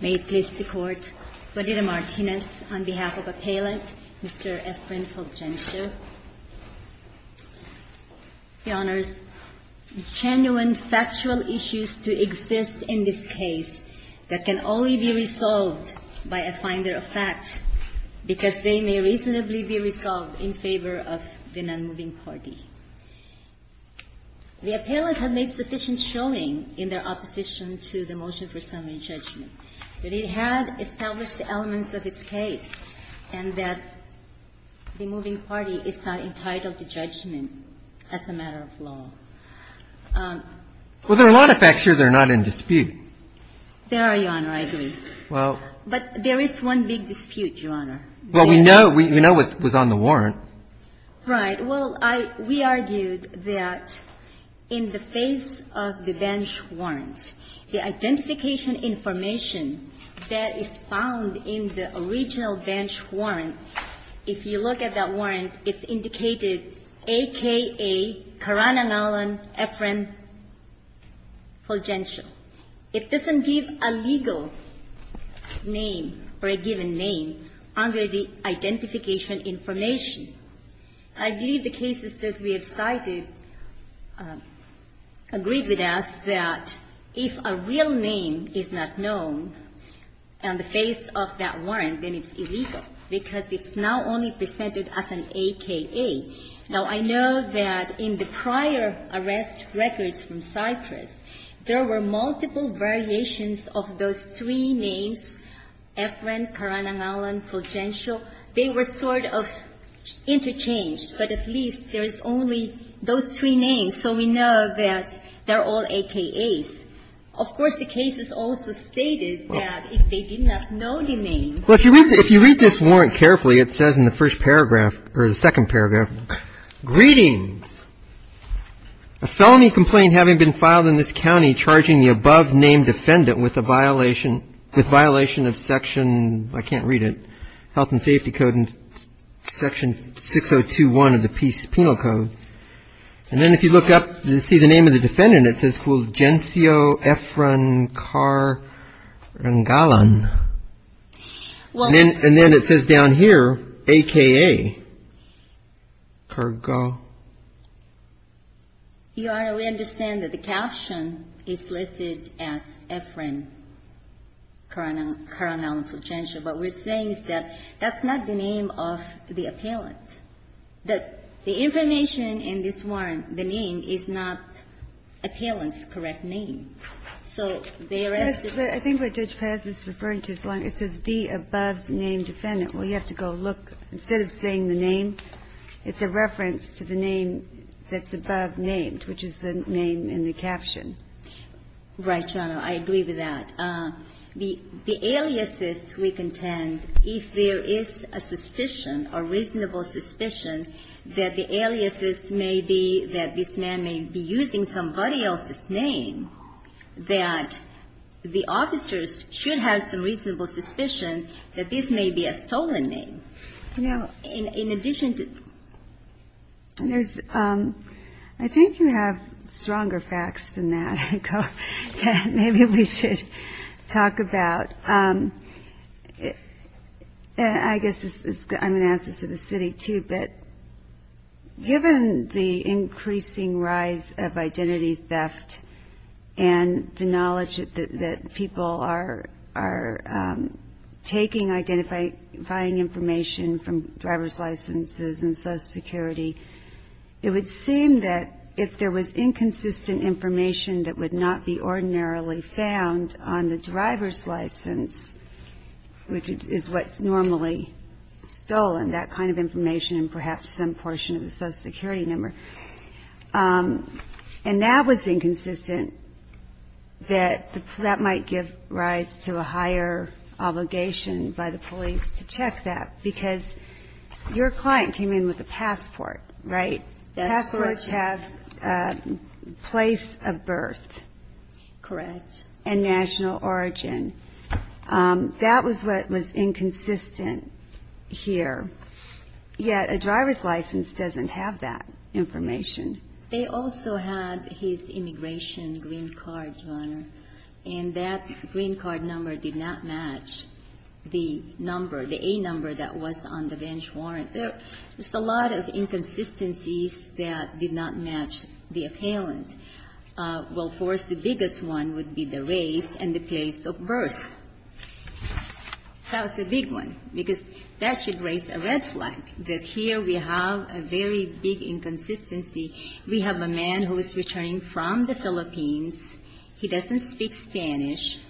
May it please the Court, Verdita Martinez, on behalf of Appellant, Mr. F. Flynn Fulgencio, Your Honors, genuine factual issues to exist in this case that can only be resolved by a finder of fact because they may reasonably be resolved in favor of the non-moving party. The appellant has made sufficient showing in their opposition to the motion for summary judgment that it had established the elements of its case and that the moving party is not entitled to judgment as a matter of law. Well, there are a lot of facts here that are not in dispute. There are, Your Honor, I agree. Well. But there is one big dispute, Your Honor. Well, we know what was on the warrant. Right. Well, I we argued that in the face of the bench warrant, the identification information that is found in the original bench warrant, if you look at that warrant, it's indicated, A.K.A. Karanangalon Ephraim Fulgencio. It doesn't give a legal name or a given name under the identification information. I believe the cases that we have cited agree with us that if a real name is not known on the face of that warrant, then it's illegal because it's not only presented as an A.K.A. Now, I know that in the prior arrest records from Cypress, there were multiple variations of those three names, Ephraim, Karanangalon, Fulgencio. They were sort of interchanged, but at least there's only those three names, so we know that they're all A.K.A.s. Of course, the cases also stated that if they did not know the name. Well, if you read this warrant carefully, it says in the first paragraph, or the second paragraph, Greetings. A felony complaint having been filed in this county charging the above-named defendant with a violation of Section, I can't read it, Health and Safety Code and Section 6021 of the Penal Code. And then if you look up and see the name of the defendant, it says Fulgencio Ephraim Karanangalon. And then it says down here, A.K.A. You Honor, we understand that the caption is listed as Ephraim Karanangalon Fulgencio. What we're saying is that that's not the name of the appellant. The information in this warrant, the name, is not the appellant's correct name. So they arrested the defendant. I think what Judge Paz is referring to is the above-named defendant. Well, you have to go look. Instead of saying the name, it's a reference to the name that's above named, which is the name in the caption. Right, Your Honor. I agree with that. The aliases we contend, if there is a suspicion, a reasonable suspicion, that the aliases may be that this man may be using somebody else's name, that the officers should have some reasonable suspicion that this may be a stolen name. You know, in addition to that. I think you have stronger facts than that. Maybe we should talk about it. I guess I'm going to ask this of the city, too, but given the increasing rise of identity theft and the knowledge that people are taking identifying information from driver's licenses and social security, it would seem that if there was inconsistent information that would not be ordinarily found on the driver's license, which is what's normally stolen, that kind of information and perhaps some portion of the social security number. And that was inconsistent, that that might give rise to a higher obligation by the police to check that. Because your client came in with a passport, right? Passports have a place of birth. Correct. And national origin. That was what was inconsistent here. Yet a driver's license doesn't have that information. They also had his immigration green card, Your Honor. And that green card number did not match the number, the A number that was on the bench warrant. There's a lot of inconsistencies that did not match the appellant. Well, of course, the biggest one would be the race and the place of birth. That was a big one, because that should raise a red flag, that here we have a very big inconsistency. We have a man who is returning from the Philippines. He doesn't speak Spanish.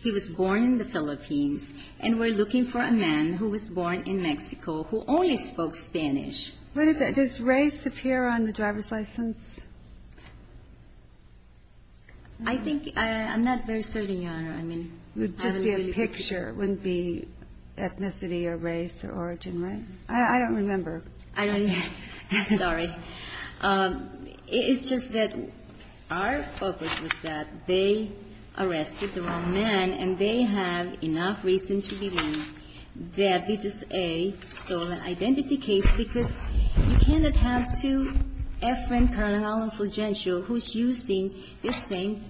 He was born in the Philippines. And we're looking for a man who was born in Mexico who only spoke Spanish. Does race appear on the driver's license? I think I'm not very certain, Your Honor. It would just be a picture. It wouldn't be ethnicity or race or origin, right? I don't remember. I don't either. Sorry. It's just that our focus was that they arrested the wrong man, and they have enough reason to believe that this is a stolen identity case, because you cannot have two afferent paranormal influential who's using the same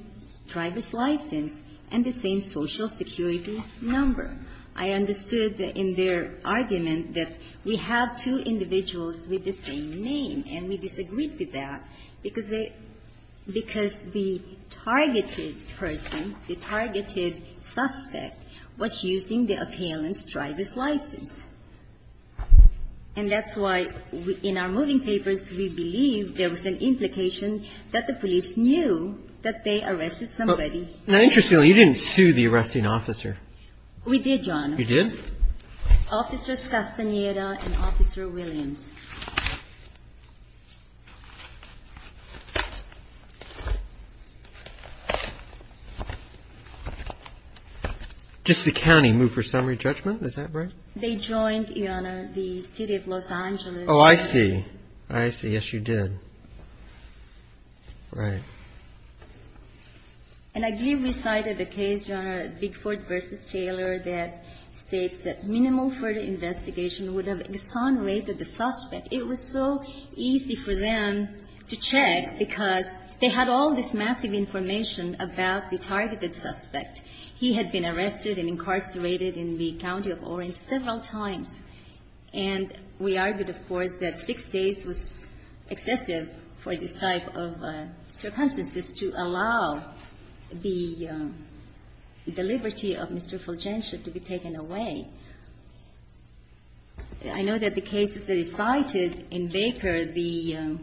driver's license and the same social security number. I understood in their argument that we have two individuals with the same name, and we disagreed with that, because they — because the targeted person, the targeted suspect, was using the appellant's driver's license. And that's why, in our moving papers, we believe there was an implication that the police knew that they arrested somebody. Now, interestingly, you didn't sue the arresting officer. We did, Your Honor. You did? Officers Castaneda and Officer Williams. Just the county moved for summary judgment? Is that right? They joined, Your Honor, the city of Los Angeles. Oh, I see. I see. Yes, you did. Right. And I believe we cited a case, Your Honor, Bigford v. Taylor, that states that minimal further investigation would have exonerated the suspect. It was so easy for them to check, because they had all this massive information about the targeted suspect. He had been arrested and incarcerated in the county of Orange several times. And we argued, of course, that 6 days was excessive for this type of circumstances to allow the liberty of Mr. Fulgencio to be taken away. I know that the case that is cited in Baker, the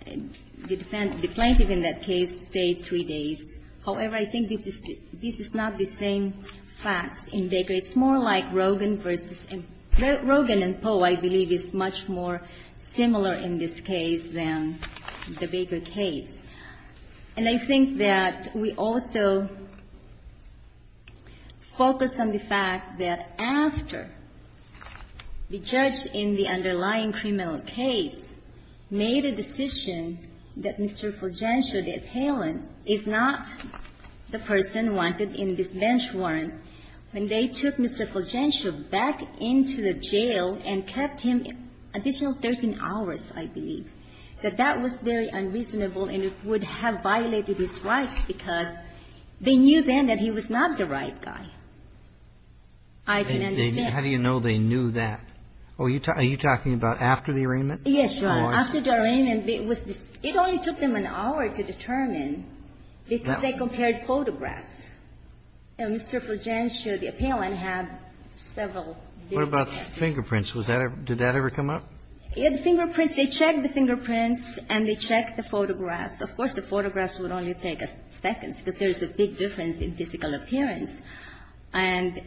plaintiff in that case stayed 3 days. However, I think this is not the same facts in Baker. It's more like Rogan v. — Rogan and Poe, I believe, is much more similar in this case than the Baker case. And I think that we also focus on the fact that after the judge in the underlying criminal case made a decision that Mr. Fulgencio, the appellant, is not the person wanted in this bench warrant, when they took Mr. Fulgencio back into the jail and kept him additional 13 hours, I believe, that that was very unreasonable and would have violated his rights, because they knew then that he was not the right guy. I didn't understand. How do you know they knew that? Are you talking about after the arraignment? Yes, Your Honor. After the arraignment. It only took them an hour to determine, because they compared photographs. Mr. Fulgencio, the appellant, had several. What about fingerprints? Did that ever come up? The fingerprints, they checked the fingerprints and they checked the photographs. Of course, the photographs would only take a second, because there is a big difference in physical appearance. And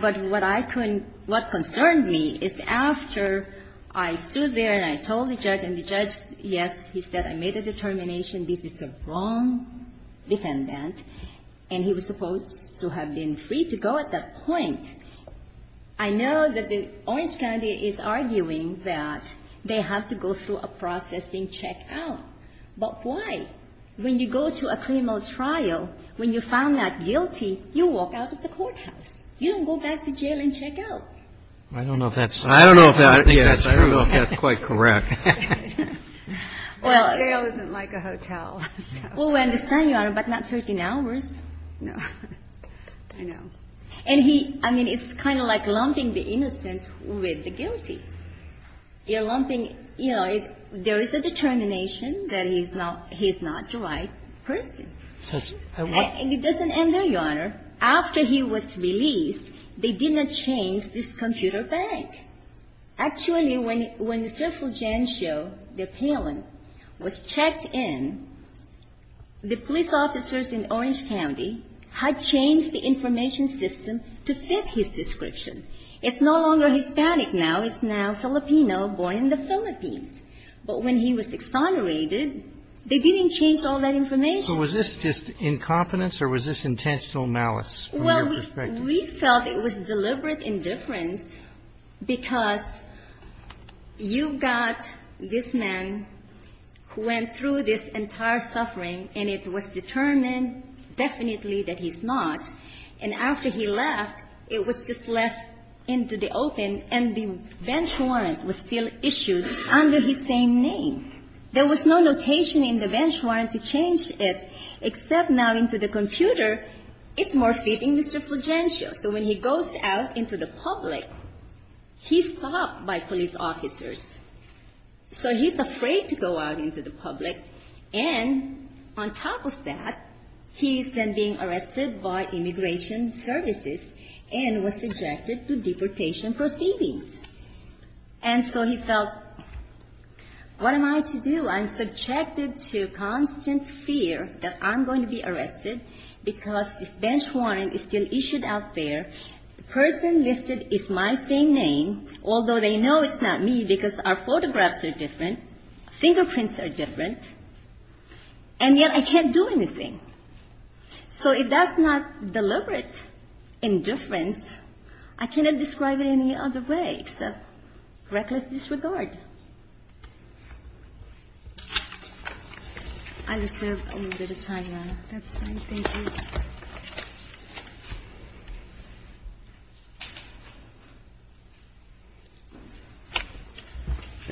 but what I couldn't – what concerned me is after I stood there and I told the judge, and the judge, yes, he said I made a determination, this is the wrong defendant, and he was supposed to have been free to go at that point. I know that the Orange County is arguing that they have to go through a processing check-out. But why? When you go to a criminal trial, when you find that guilty, you walk out of the courthouse. You don't go back to jail and check out. I don't know if that's true. I don't know if that's true. I don't know if that's quite correct. Well, jail isn't like a hotel. Well, we understand, Your Honor, but not 13 hours. No. I know. And he – I mean, it's kind of like lumping the innocent with the guilty. You're lumping – you know, there is a determination that he's not the right person. And it doesn't end there, Your Honor. After he was released, they did not change this computer bank. Actually, when Mr. Fulgencio, the appellant, was checked in, the police officers in Orange County had changed the information system to fit his description. It's no longer Hispanic now. It's now Filipino, born in the Philippines. But when he was exonerated, they didn't change all that information. So was this just incompetence or was this intentional malice from your perspective? Well, we felt it was deliberate indifference because you've got this man who went through this entire suffering, and it was determined definitely that he's not. And after he left, it was just left into the open, and the bench warrant was still issued under his same name. There was no notation in the bench warrant to change it, except now into the computer, it's more fitting Mr. Fulgencio. So when he goes out into the public, he's stopped by police officers. So he's afraid to go out into the public. And on top of that, he's then being arrested by immigration services and was subjected to deportation proceedings. And so he felt, what am I to do? I'm subjected to constant fear that I'm going to be arrested because this bench warrant is still issued out there. The person listed is my same name, although they know it's not me because our photographs are different, fingerprints are different, and yet I can't do anything. So if that's not deliberate indifference, I cannot describe it any other way except reckless disregard. I reserve a little bit of time, Your Honor. That's fine. Thank you.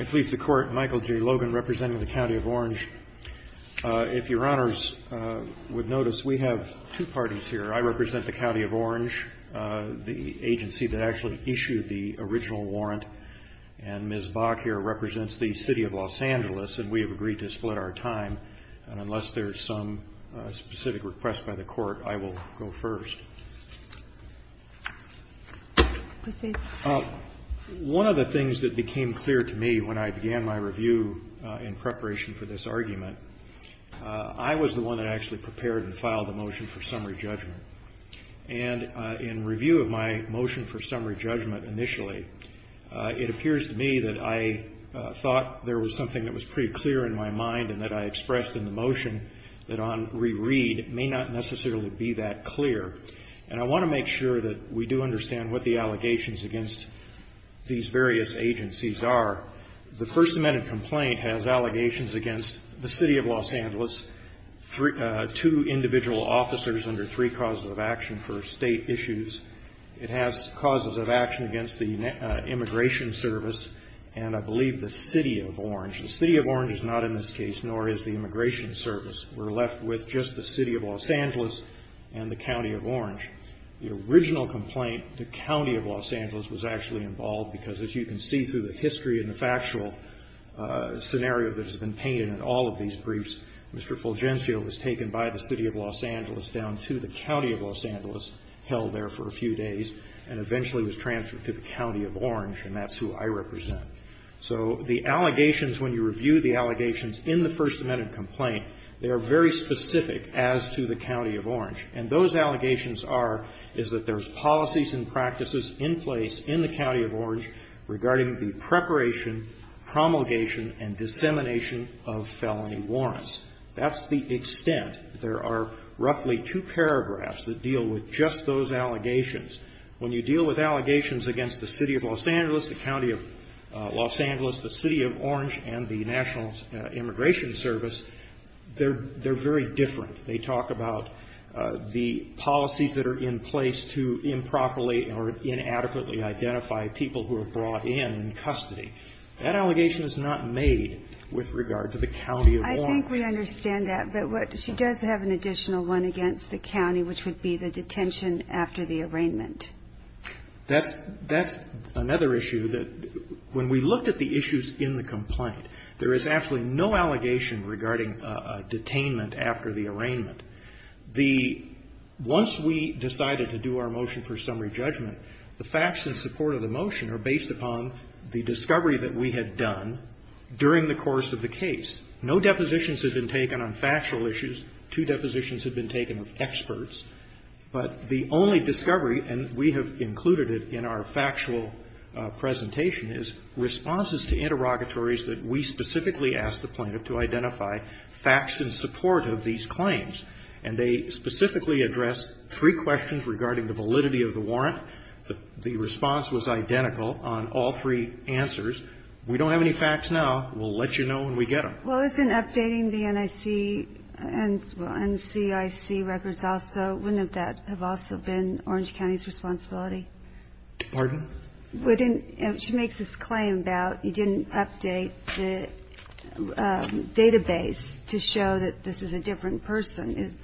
It pleads the Court, Michael J. Logan, representing the County of Orange. If Your Honors would notice, we have two parties here. I represent the County of Orange, the agency that actually issued the original warrant, and Ms. Bach here represents the City of Los Angeles, and we have agreed to split our time. And unless there's some specific request by the Court, I will go first. One of the things that became clear to me when I began my review in preparation for this argument, I was the one that actually prepared and filed the motion for summary judgment. And in review of my motion for summary judgment initially, it appears to me that I thought there was something that was pretty clear in my mind and that I expressed in the motion that on reread may not necessarily be that clear. And I want to make sure that we do understand what the allegations against these various agencies are. The First Amendment complaint has allegations against the City of Los Angeles, two individual officers under three causes of action for State issues. It has causes of action against the Immigration Service and I believe the City of Orange. The City of Orange is not in this case, nor is the Immigration Service. We're left with just the City of Los Angeles and the County of Orange. The original complaint, the County of Los Angeles was actually involved because as you can see through the history and the factual scenario that has been painted in all of these briefs, Mr. Fulgencio was taken by the City of Los Angeles down to the County of Los Angeles for a few days and eventually was transferred to the County of Orange and that's who I represent. So the allegations, when you review the allegations in the First Amendment complaint, they are very specific as to the County of Orange. And those allegations are, is that there's policies and practices in place in the County of Orange regarding the preparation, promulgation and dissemination of felony warrants. That's the extent. There are roughly two paragraphs that deal with just those allegations. When you deal with allegations against the City of Los Angeles, the County of Los Angeles, the City of Orange and the National Immigration Service, they're very different. They talk about the policies that are in place to improperly or inadequately identify people who are brought in in custody. I think we understand that. But what, she does have an additional one against the County, which would be the detention after the arraignment. That's, that's another issue that when we looked at the issues in the complaint, there is actually no allegation regarding detainment after the arraignment. The, once we decided to do our motion for summary judgment, the facts in support of the motion are based upon the discovery that we had done during the course of the case. No depositions had been taken on factual issues. Two depositions had been taken of experts. But the only discovery, and we have included it in our factual presentation, is responses to interrogatories that we specifically asked the plaintiff to identify facts in support of these claims. And they specifically addressed three questions regarding the validity of the warrant. The response was identical on all three answers. We don't have any facts now. We'll let you know when we get them. Well, isn't updating the NIC, NCIC records also, wouldn't that have also been Orange County's responsibility? Pardon? She makes this claim about you didn't update the database to show that this is a different person.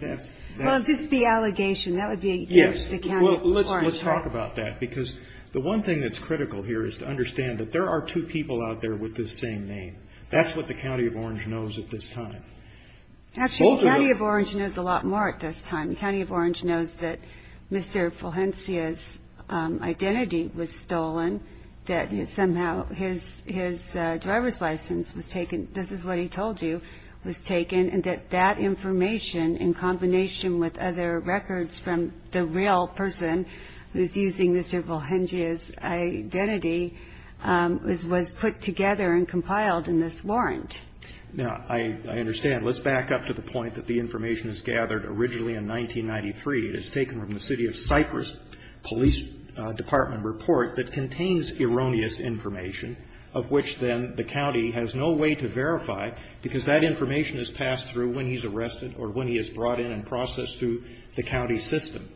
Well, just the allegation. That would be against the County of Orange. Yes. Well, let's talk about that. Because the one thing that's critical here is to understand that there are two people out there with this same name. That's what the County of Orange knows at this time. Actually, the County of Orange knows a lot more at this time. The County of Orange knows that Mr. Fulhensia's identity was stolen, that somehow his driver's license was taken. This is what he told you was taken, and that that information, in combination with other records from the real person who's using Mr. Fulhensia's identity, was put together and compiled in this warrant. Now, I understand. Let's back up to the point that the information is gathered originally in 1993. It is taken from the City of Cypress Police Department report that contains erroneous information, of which then the county has no way to verify because that information is passed through when he's arrested or when he is brought in and processed through the county system.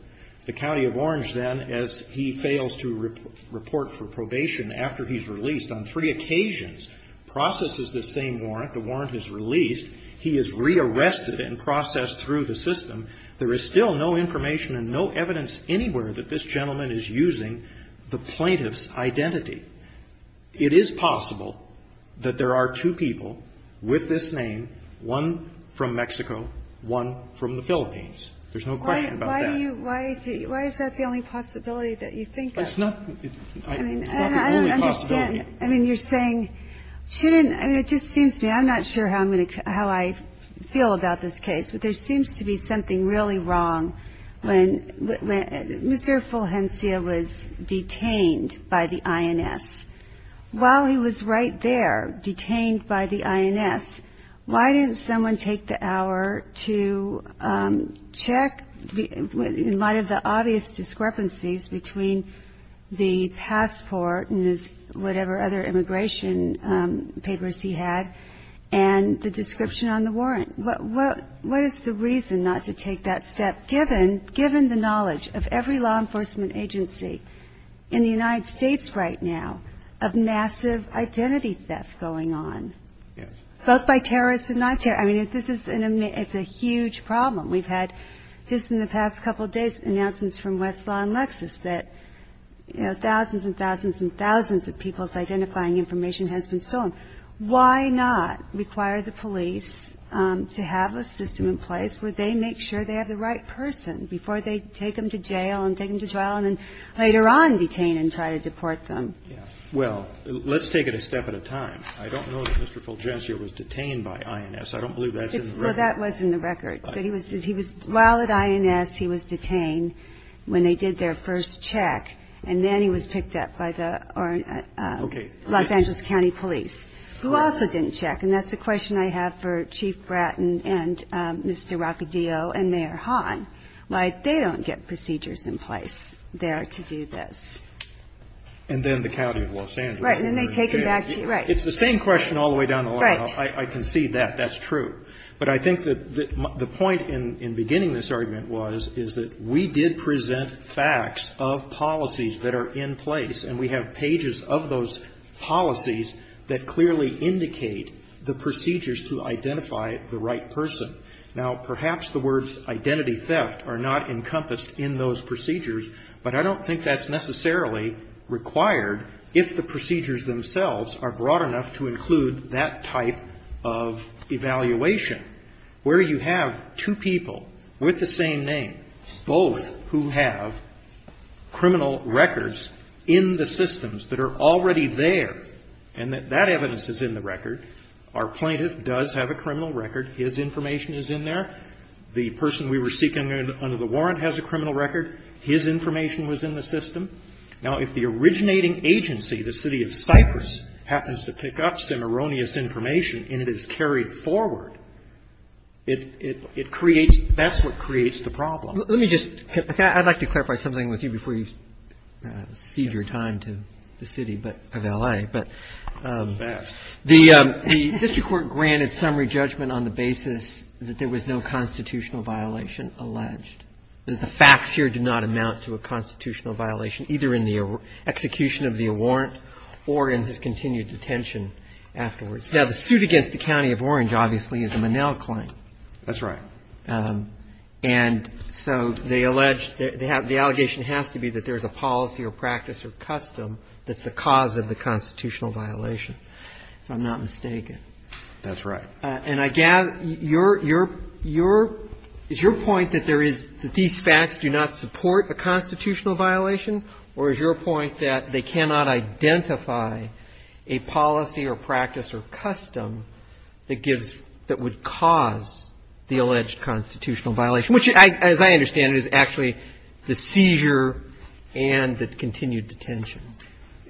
The County of Orange then, as he fails to report for probation after he's released on three occasions, processes the same warrant. The warrant is released. He is rearrested and processed through the system. There is still no information and no evidence anywhere that this gentleman is using the plaintiff's identity. It is possible that there are two people with this name, one from Mexico, one from the Philippines. There's no question about that. Why is that the only possibility that you think of? It's not the only possibility. I mean, you're saying she didn't – I mean, it just seems to me – I'm not sure how I feel about this case, but there seems to be something really wrong when Mr. Fulhensia was detained by the INS. While he was right there, detained by the INS, why didn't someone take the hour to check in light of the obvious discrepancies between the passport and whatever other immigration papers he had and the description on the warrant? What is the reason not to take that step, given the knowledge of every law enforcement agency in the United States right now of massive identity theft going on, both by terrorists and non-terrorists? I mean, this is a huge problem. We've had just in the past couple of days announcements from Westlaw and Lexis that, you know, thousands and thousands and thousands of people's identifying information has been stolen. Why not require the police to have a system in place where they make sure they have the right person before they take them to jail and take them to trial and then later on detain and try to deport them? Well, let's take it a step at a time. I don't know that Mr. Fulhensia was detained by INS. I don't believe that's in the record. Well, that was in the record. While at INS, he was detained when they did their first check, and then he was picked up by the Los Angeles County police, who also didn't check. And that's the question I have for Chief Bratton and Mr. Roccadio and Mayor Hahn, why they don't get procedures in place there to do this. And then the county of Los Angeles. Right. And then they take it back to you. Right. It's the same question all the way down the line. I concede that. That's true. But I think that the point in beginning this argument was, is that we did present facts of policies that are in place, and we have pages of those policies that clearly indicate the procedures to identify the right person. Now, perhaps the words identity theft are not encompassed in those procedures, but I don't think that's necessarily required if the procedures themselves are broad enough to include that type of evaluation, where you have two people with the same name, both who have criminal records in the systems that are already there, and that that evidence is in the record. Our plaintiff does have a criminal record. His information is in there. The person we were seeking under the warrant has a criminal record. His information was in the system. Now, if the originating agency, the city of Cyprus, happens to pick up some erroneous information and it is carried forward, it creates the problem. Let me just, I'd like to clarify something with you before you cede your time to the city of L.A., but the district court granted summary judgment on the basis that there was no constitutional violation alleged, that the facts here did not amount to a constitutional violation, either in the execution of the warrant or in his continued detention afterwards. Now, the suit against the county of Orange, obviously, is a Monell claim. That's right. And so they allege, the allegation has to be that there's a policy or practice or custom that's the cause of the constitutional violation, if I'm not mistaken. That's right. And I gather your, your, your, is your point that there is, that these facts do not support a constitutional violation, or is your point that they cannot identify a policy or practice or custom that gives, that would cause the alleged constitutional violation, which, as I understand it, is actually the seizure and the continued detention?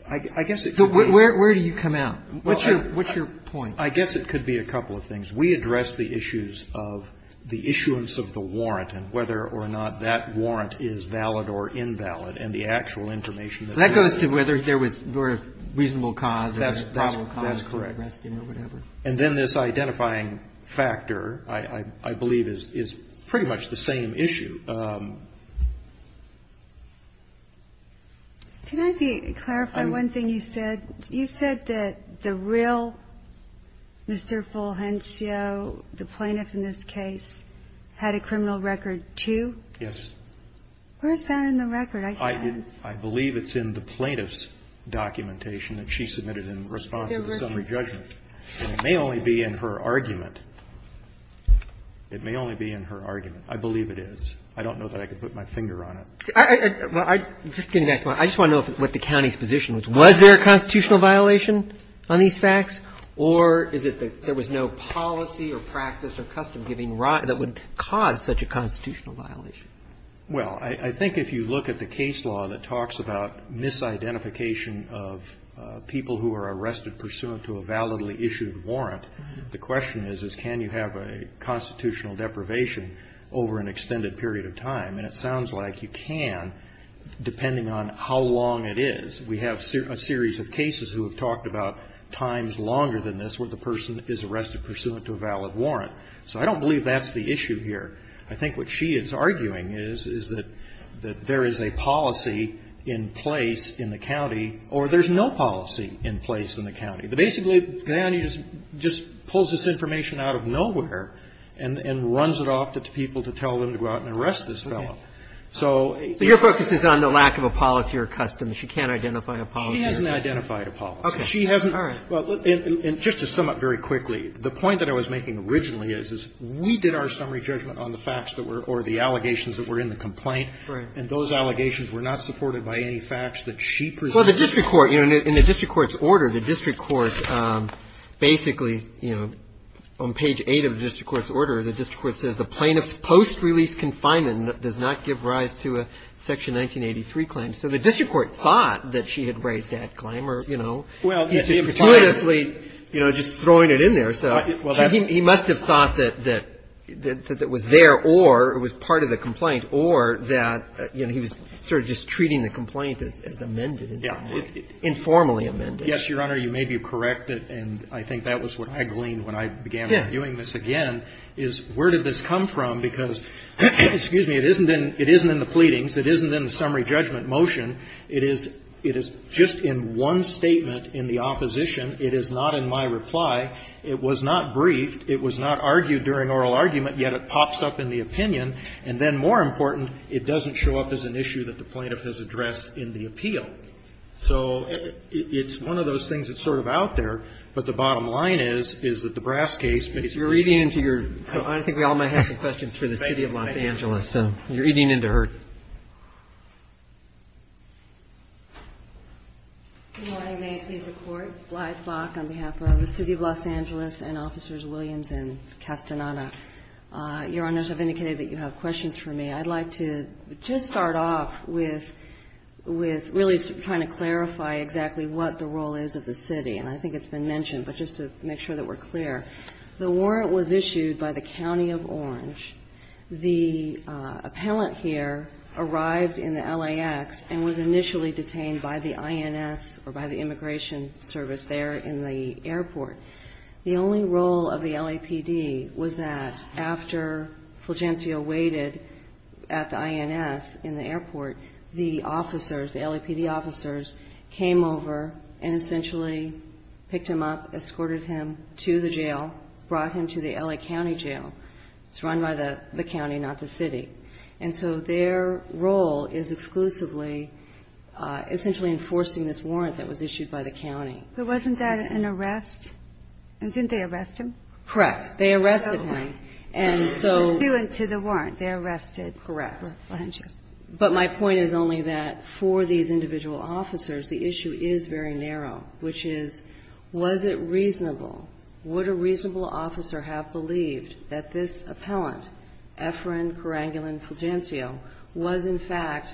I guess it could be. Where do you come out? What's your, what's your point? I guess it could be a couple of things. We address the issues of the issuance of the warrant and whether or not that warrant is valid or invalid, and the actual information that we're getting. That goes to whether there was, or a reasonable cause or a probable cause. That's correct. And then this identifying factor, I, I believe, is, is pretty much the same issue. Can I clarify one thing you said? You said that the real Mr. Fulgencio, the plaintiff in this case, had a criminal record, too? Yes. Where's that in the record? I can't. I believe it's in the plaintiff's documentation that she submitted in response to the summary judgment. It may only be in her argument. It may only be in her argument. I believe it is. I don't know that I could put my finger on it. I, I, I, just getting back to my, I just want to know what the county's position was. Was there a constitutional violation on these facts? Or is it that there was no policy or practice or custom giving, that would cause such a constitutional violation? Well, I, I think if you look at the case law that talks about misidentification of people who are arrested pursuant to a validly issued warrant, the question is, is can you have a constitutional deprivation over an extended period of time? And it sounds like you can, depending on how long it is. We have a series of cases who have talked about times longer than this where the person is arrested pursuant to a valid warrant. So I don't believe that's the issue here. I think what she is arguing is, is that, that there is a policy in place in the county, or there's no policy in place in the county. Basically, the county just, just pulls this information out of nowhere and, and tells it off to people to tell them to go out and arrest this fellow. So your focus is on the lack of a policy or custom. She can't identify a policy. She hasn't identified a policy. Okay. She hasn't. All right. And just to sum up very quickly, the point that I was making originally is, is we did our summary judgment on the facts that were, or the allegations that were in the complaint. Right. And those allegations were not supported by any facts that she presented. Well, the district court, you know, in the district court's order, the district court says the plaintiff's post-release confinement does not give rise to a Section 1983 claim. So the district court thought that she had raised that claim, or, you know, he's just gratuitously, you know, just throwing it in there. So he must have thought that, that, that it was there or it was part of the complaint or that, you know, he was sort of just treating the complaint as, as amended. Yeah. Informally amended. Yes, Your Honor, you may be correct. And I think that was what I gleaned when I began reviewing this again, is where did this come from? Because, excuse me, it isn't in, it isn't in the pleadings. It isn't in the summary judgment motion. It is, it is just in one statement in the opposition. It is not in my reply. It was not briefed. It was not argued during oral argument, yet it pops up in the opinion. And then, more important, it doesn't show up as an issue that the plaintiff has addressed in the appeal. So it's one of those things that's sort of out there, but the bottom line is, is that the Brass case based on the plaintiff's opinion. I don't think we all might have some questions for the City of Los Angeles, so you're eating into her. Good morning. May it please the Court. Glyde Bach on behalf of the City of Los Angeles and Officers Williams and Castaneda. Your Honors, I've indicated that you have questions for me. I'd like to just start off with, with really trying to clarify exactly what the role is of the City. And I think it's been mentioned, but just to make sure that we're clear. The warrant was issued by the County of Orange. The appellant here arrived in the LAX and was initially detained by the INS or by the immigration service there in the airport. The only role of the LAPD was that after Fulgencio waited at the INS in the airport, the officers, the LAPD officers, came over and essentially picked him up, escorted him to the jail, brought him to the LA County jail. It's run by the county, not the city. And so their role is exclusively essentially enforcing this warrant that was issued by the county. But wasn't that an arrest? Didn't they arrest him? Correct. They arrested him. And so the warrant, they arrested Fulgencio. Correct. But my point is only that for these individual officers, the issue is very narrow, which is, was it reasonable, would a reasonable officer have believed that this appellant, Efren Kerangulan Fulgencio, was in fact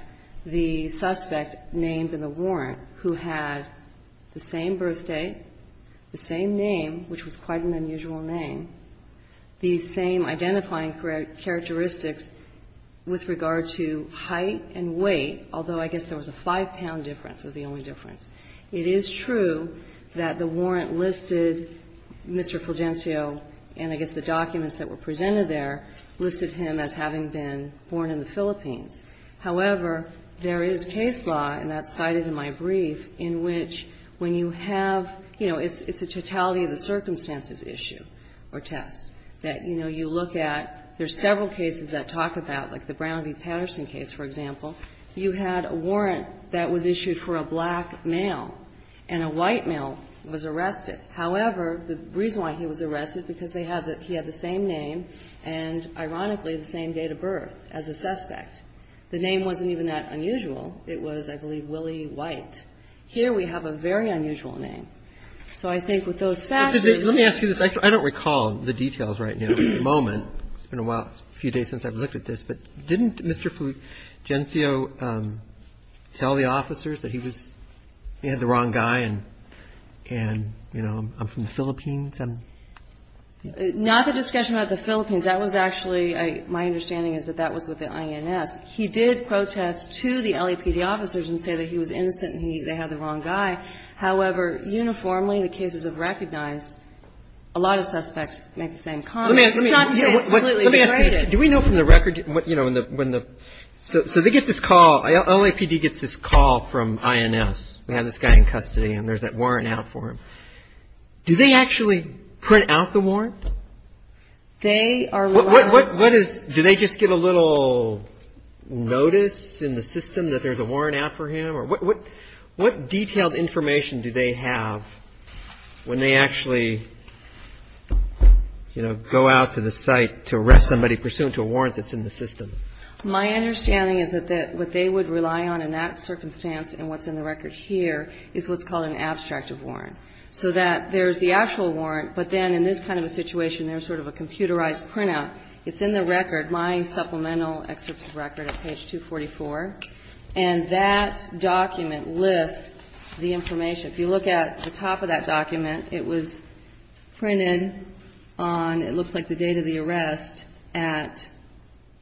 the suspect named in the warrant who had the same birthday, the same name, which was quite an unusual name, the same identifying characteristics with regard to height and weight, although I guess there was a five-pound difference as the only difference. It is true that the warrant listed Mr. Fulgencio, and I guess the documents that were presented there, listed him as having been born in the Philippines. However, there is case law, and that's cited in my brief, in which when you have you know, it's a totality of the circumstances issue or test that, you know, you look at. There's several cases that talk about, like the Brown v. Patterson case, for example. You had a warrant that was issued for a black male, and a white male was arrested. However, the reason why he was arrested, because they had the he had the same name and, ironically, the same date of birth as a suspect. The name wasn't even that unusual. It was, I believe, Willie White. Here we have a very unusual name. So I think with those facts that we have. Roberts. Let me ask you this. I don't recall the details right now at the moment. It's been a while. It's a few days since I've looked at this. But didn't Mr. Fulgencio tell the officers that he was, he had the wrong guy and, you know, I'm from the Philippines. Not the discussion about the Philippines. That was actually, my understanding is that that was with the INS. He did protest to the LAPD officers and say that he was innocent and they had the wrong guy. However, uniformly, the cases have recognized a lot of suspects make the same comment. Let me ask you this. Do we know from the record, you know, when the, so they get this call. LAPD gets this call from INS. We have this guy in custody and there's that warrant out for him. Do they actually print out the warrant? They are allowed. What is, do they just get a little notice in the system that there's a warrant out for him? I'm not sure. What detailed information do they have when they actually, you know, go out to the site to arrest somebody pursuant to a warrant that's in the system? My understanding is that what they would rely on in that circumstance and what's in the record here is what's called an abstractive warrant. So that there's the actual warrant, but then in this kind of a situation, there's sort of a computerized printout. It's in the record, my supplemental excerpts of record at page 244. And that document lists the information. If you look at the top of that document, it was printed on, it looks like the date of the arrest at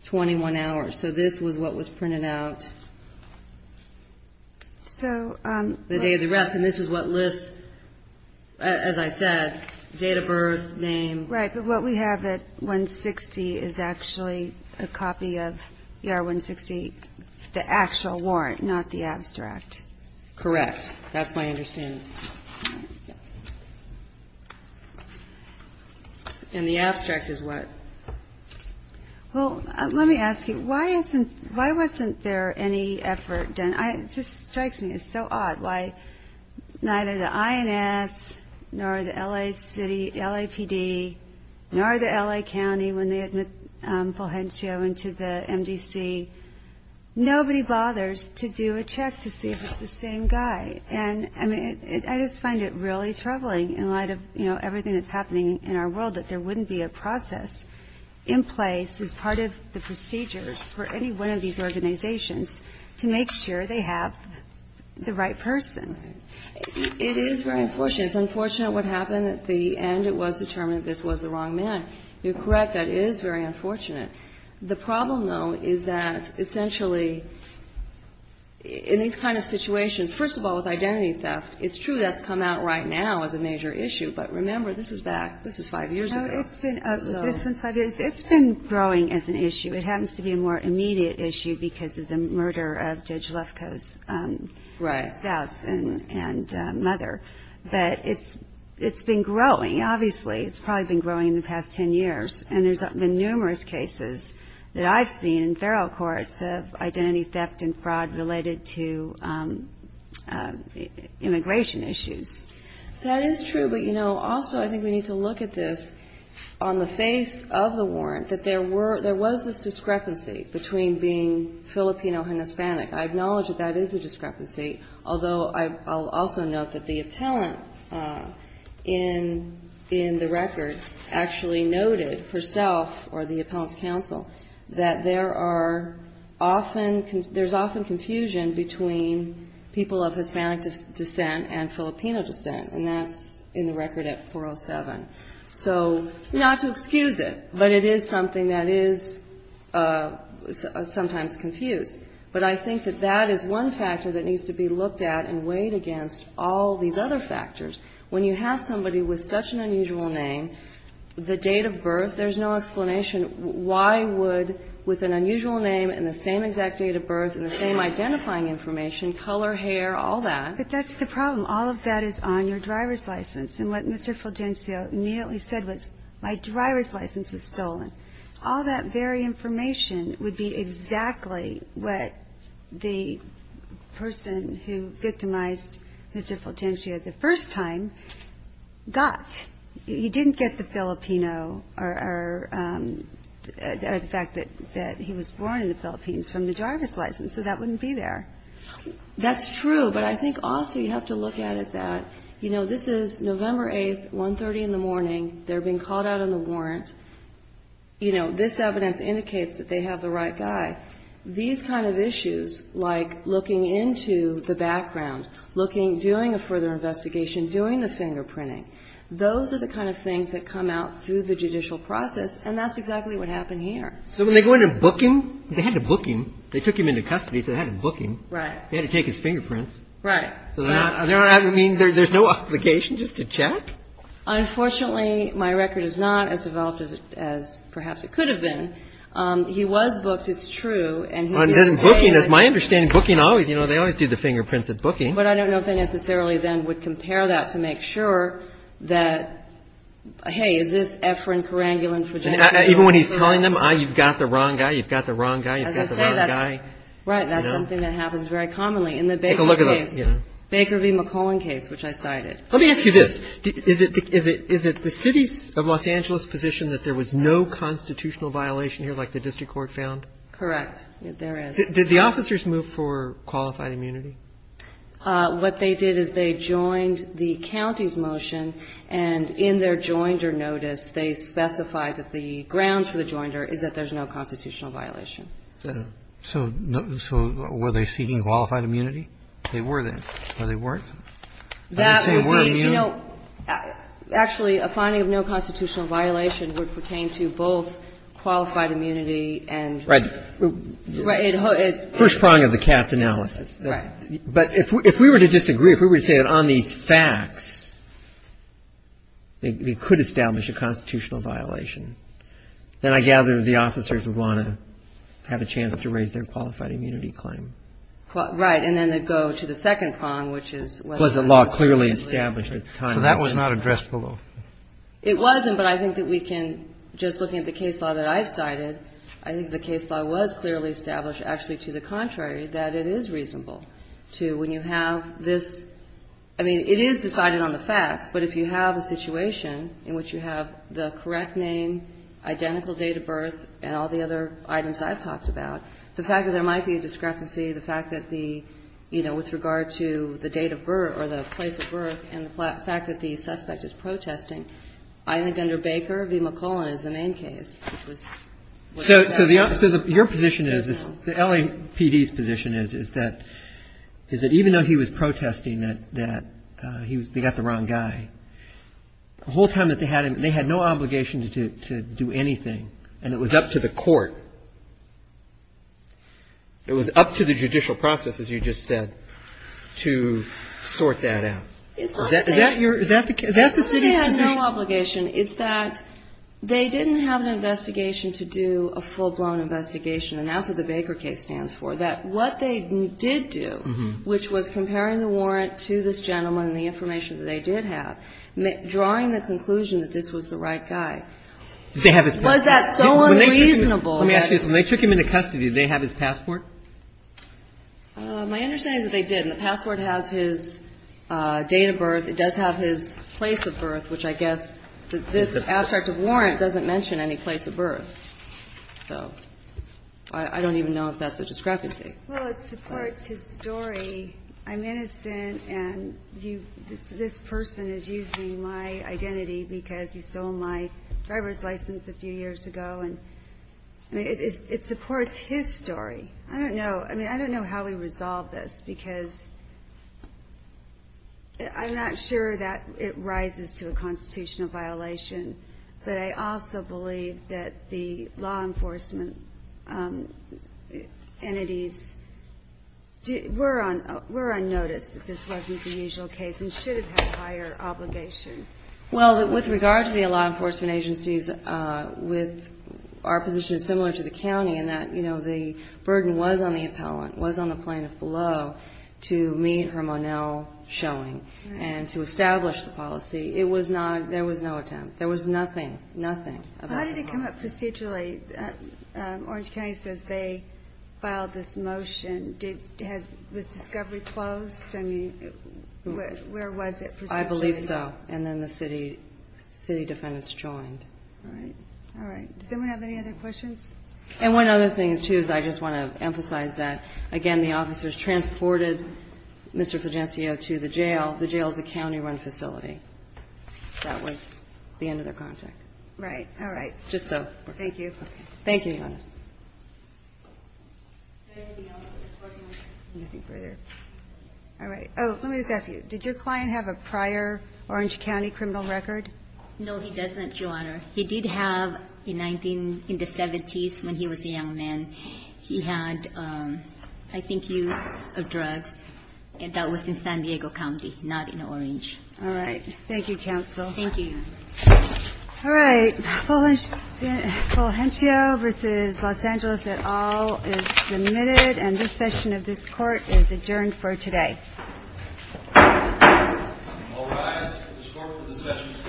21 hours. So this was what was printed out. The day of the arrest. And this is what lists, as I said, date of birth, name. Right. But what we have at 160 is actually a copy of ER 160, the actual warrant, not the abstract. Correct. That's my understanding. And the abstract is what? Well, let me ask you. Why isn't, why wasn't there any effort done? It just strikes me. Neither the INS, nor the LA City, LAPD, nor the LA County, when they admit Fulgencio into the MDC, nobody bothers to do a check to see if it's the same guy. And I mean, I just find it really troubling in light of, you know, everything that's happening in our world, that there wouldn't be a process in place as part of the It is very unfortunate. It's unfortunate what happened at the end. It was determined this was the wrong man. You're correct. That is very unfortunate. The problem, though, is that essentially in these kind of situations, first of all, with identity theft, it's true that's come out right now as a major issue. But remember, this is back, this is five years ago. No, it's been, this one's five years. It's been growing as an issue. It happens to be a more immediate issue because of the murder of Judge Lefkoe's spouse and mother. But it's been growing, obviously. It's probably been growing in the past ten years. And there's been numerous cases that I've seen in federal courts of identity theft and fraud related to immigration issues. That is true. But, you know, also I think we need to look at this on the face of the warrant, that there was this discrepancy between being Filipino and Hispanic. I acknowledge that that is a discrepancy, although I'll also note that the appellant in the record actually noted herself or the appellant's counsel that there are often, there's often confusion between people of Hispanic descent and Filipino descent, and that's in the record at 407. So not to excuse it, but it is something that is sometimes confused. But I think that that is one factor that needs to be looked at and weighed against all these other factors. When you have somebody with such an unusual name, the date of birth, there's no explanation why would, with an unusual name and the same exact date of birth and the same identifying information, color, hair, all that. But that's the problem. All of that is on your driver's license. And what Mr. Fulgencio immediately said was, my driver's license was stolen. All that very information would be exactly what the person who victimized Mr. Fulgencio the first time got. He didn't get the Filipino or the fact that he was born in the Philippines from the driver's license, so that wouldn't be there. That's true, but I think also you have to look at it that, you know, this is November 8th, 1.30 in the morning. They're being called out on the warrant. You know, this evidence indicates that they have the right guy. These kind of issues, like looking into the background, looking, doing a further investigation, doing the fingerprinting, those are the kind of things that come out through the judicial process, and that's exactly what happened here. So when they go in and book him, they had to book him. They took him into custody, so they had to book him. Right. They had to take his fingerprints. Right. I mean, there's no obligation just to check? Unfortunately, my record is not as developed as perhaps it could have been. He was booked, it's true. And doesn't booking, as my understanding, booking always, you know, they always do the fingerprints at booking. But I don't know if they necessarily then would compare that to make sure that, hey, is this Efrin, Keranguil, and Fragetti? Even when he's telling them, ah, you've got the wrong guy, you've got the wrong guy, you've got the wrong guy. As I say, that's something that happens very commonly in the Baker case. Take a look at the, you know. Baker v. McClellan case, which I cited. Let me ask you this. Is it the city of Los Angeles' position that there was no constitutional violation here, like the district court found? Correct. There is. Did the officers move for qualified immunity? What they did is they joined the county's motion, and in their joinder notice, they specified that the grounds for the joinder is that there's no constitutional violation. So were they seeking qualified immunity? They were then. Or they weren't? That would be, you know. Actually, a finding of no constitutional violation would pertain to both qualified immunity and. Right. First prong of the Katz analysis. But if we were to disagree, if we were to say that on these facts, they could establish a constitutional violation, then I gather the officers would want to have a chance to raise their qualified immunity claim. Right. And then to go to the second prong, which is. Was the law clearly established at the time. So that was not addressed below. It wasn't, but I think that we can, just looking at the case law that I cited, I think the case law was clearly established, actually, to the contrary, that it is reasonable to, when you have this, I mean, it is decided on the facts, but if you have a situation in which you have the correct name, identical date of birth, and all the other items I've talked about, the fact that there might be a discrepancy, the fact that the, you know, with regard to the date of birth or the place of birth and the fact that the suspect is protesting, I think under Baker v. McClellan is the main case. So your position is, the LAPD's position is, is that even though he was protesting that they got the wrong guy, the whole time that they had him, they had no obligation to do anything, and it was up to the court, it was up to the judicial process, as you just said, to sort that out. Is that the city's conviction? It's that they didn't have an investigation to do a full-blown investigation, and that's what the Baker case stands for, that what they did do, which was comparing the warrant to this gentleman and the information that they did have, drawing the conclusion that this was the right guy. Did they have his passport? Was that so unreasonable? Let me ask you this. When they took him into custody, did they have his passport? My understanding is that they did, and the passport has his date of birth. It does have his place of birth, which I guess, this abstract of warrant doesn't mention any place of birth. So I don't even know if that's a discrepancy. Well, it supports his story. I'm innocent, and this person is using my identity because he stole my driver's license a few years ago, and it supports his story. I don't know. I mean, I don't know how we resolve this because I'm not sure that it rises to a constitutional violation, but I also believe that the law enforcement entities were on notice that this wasn't the usual case and should have had a higher obligation. Well, with regard to the law enforcement agencies, our position is similar to the agency. The burden was on the appellant, was on the plaintiff below, to meet her Monell showing and to establish the policy. There was no attempt. There was nothing, nothing. How did it come up procedurally? Orange County says they filed this motion. Was discovery closed? I mean, where was it procedurally? I believe so, and then the city defendants joined. All right. All right. Does anyone have any other questions? And one other thing, too, is I just want to emphasize that, again, the officers transported Mr. Pagencio to the jail. The jail is a county-run facility. That was the end of their contact. Right. All right. Just so. Thank you. Thank you, Your Honor. Anything else? Anything further? All right. Oh, let me just ask you. Did your client have a prior Orange County criminal record? No, he doesn't, Your Honor. He did have, in the 1970s, when he was a young man, he had, I think, use of drugs that was in San Diego County, not in Orange. All right. Thank you, counsel. Thank you. All right. Fulgencio v. Los Angeles et al. is admitted, and this session of this Court is adjourned for today. All rise. This Court for this session is adjourned. Thank you. Thank you. Thank you.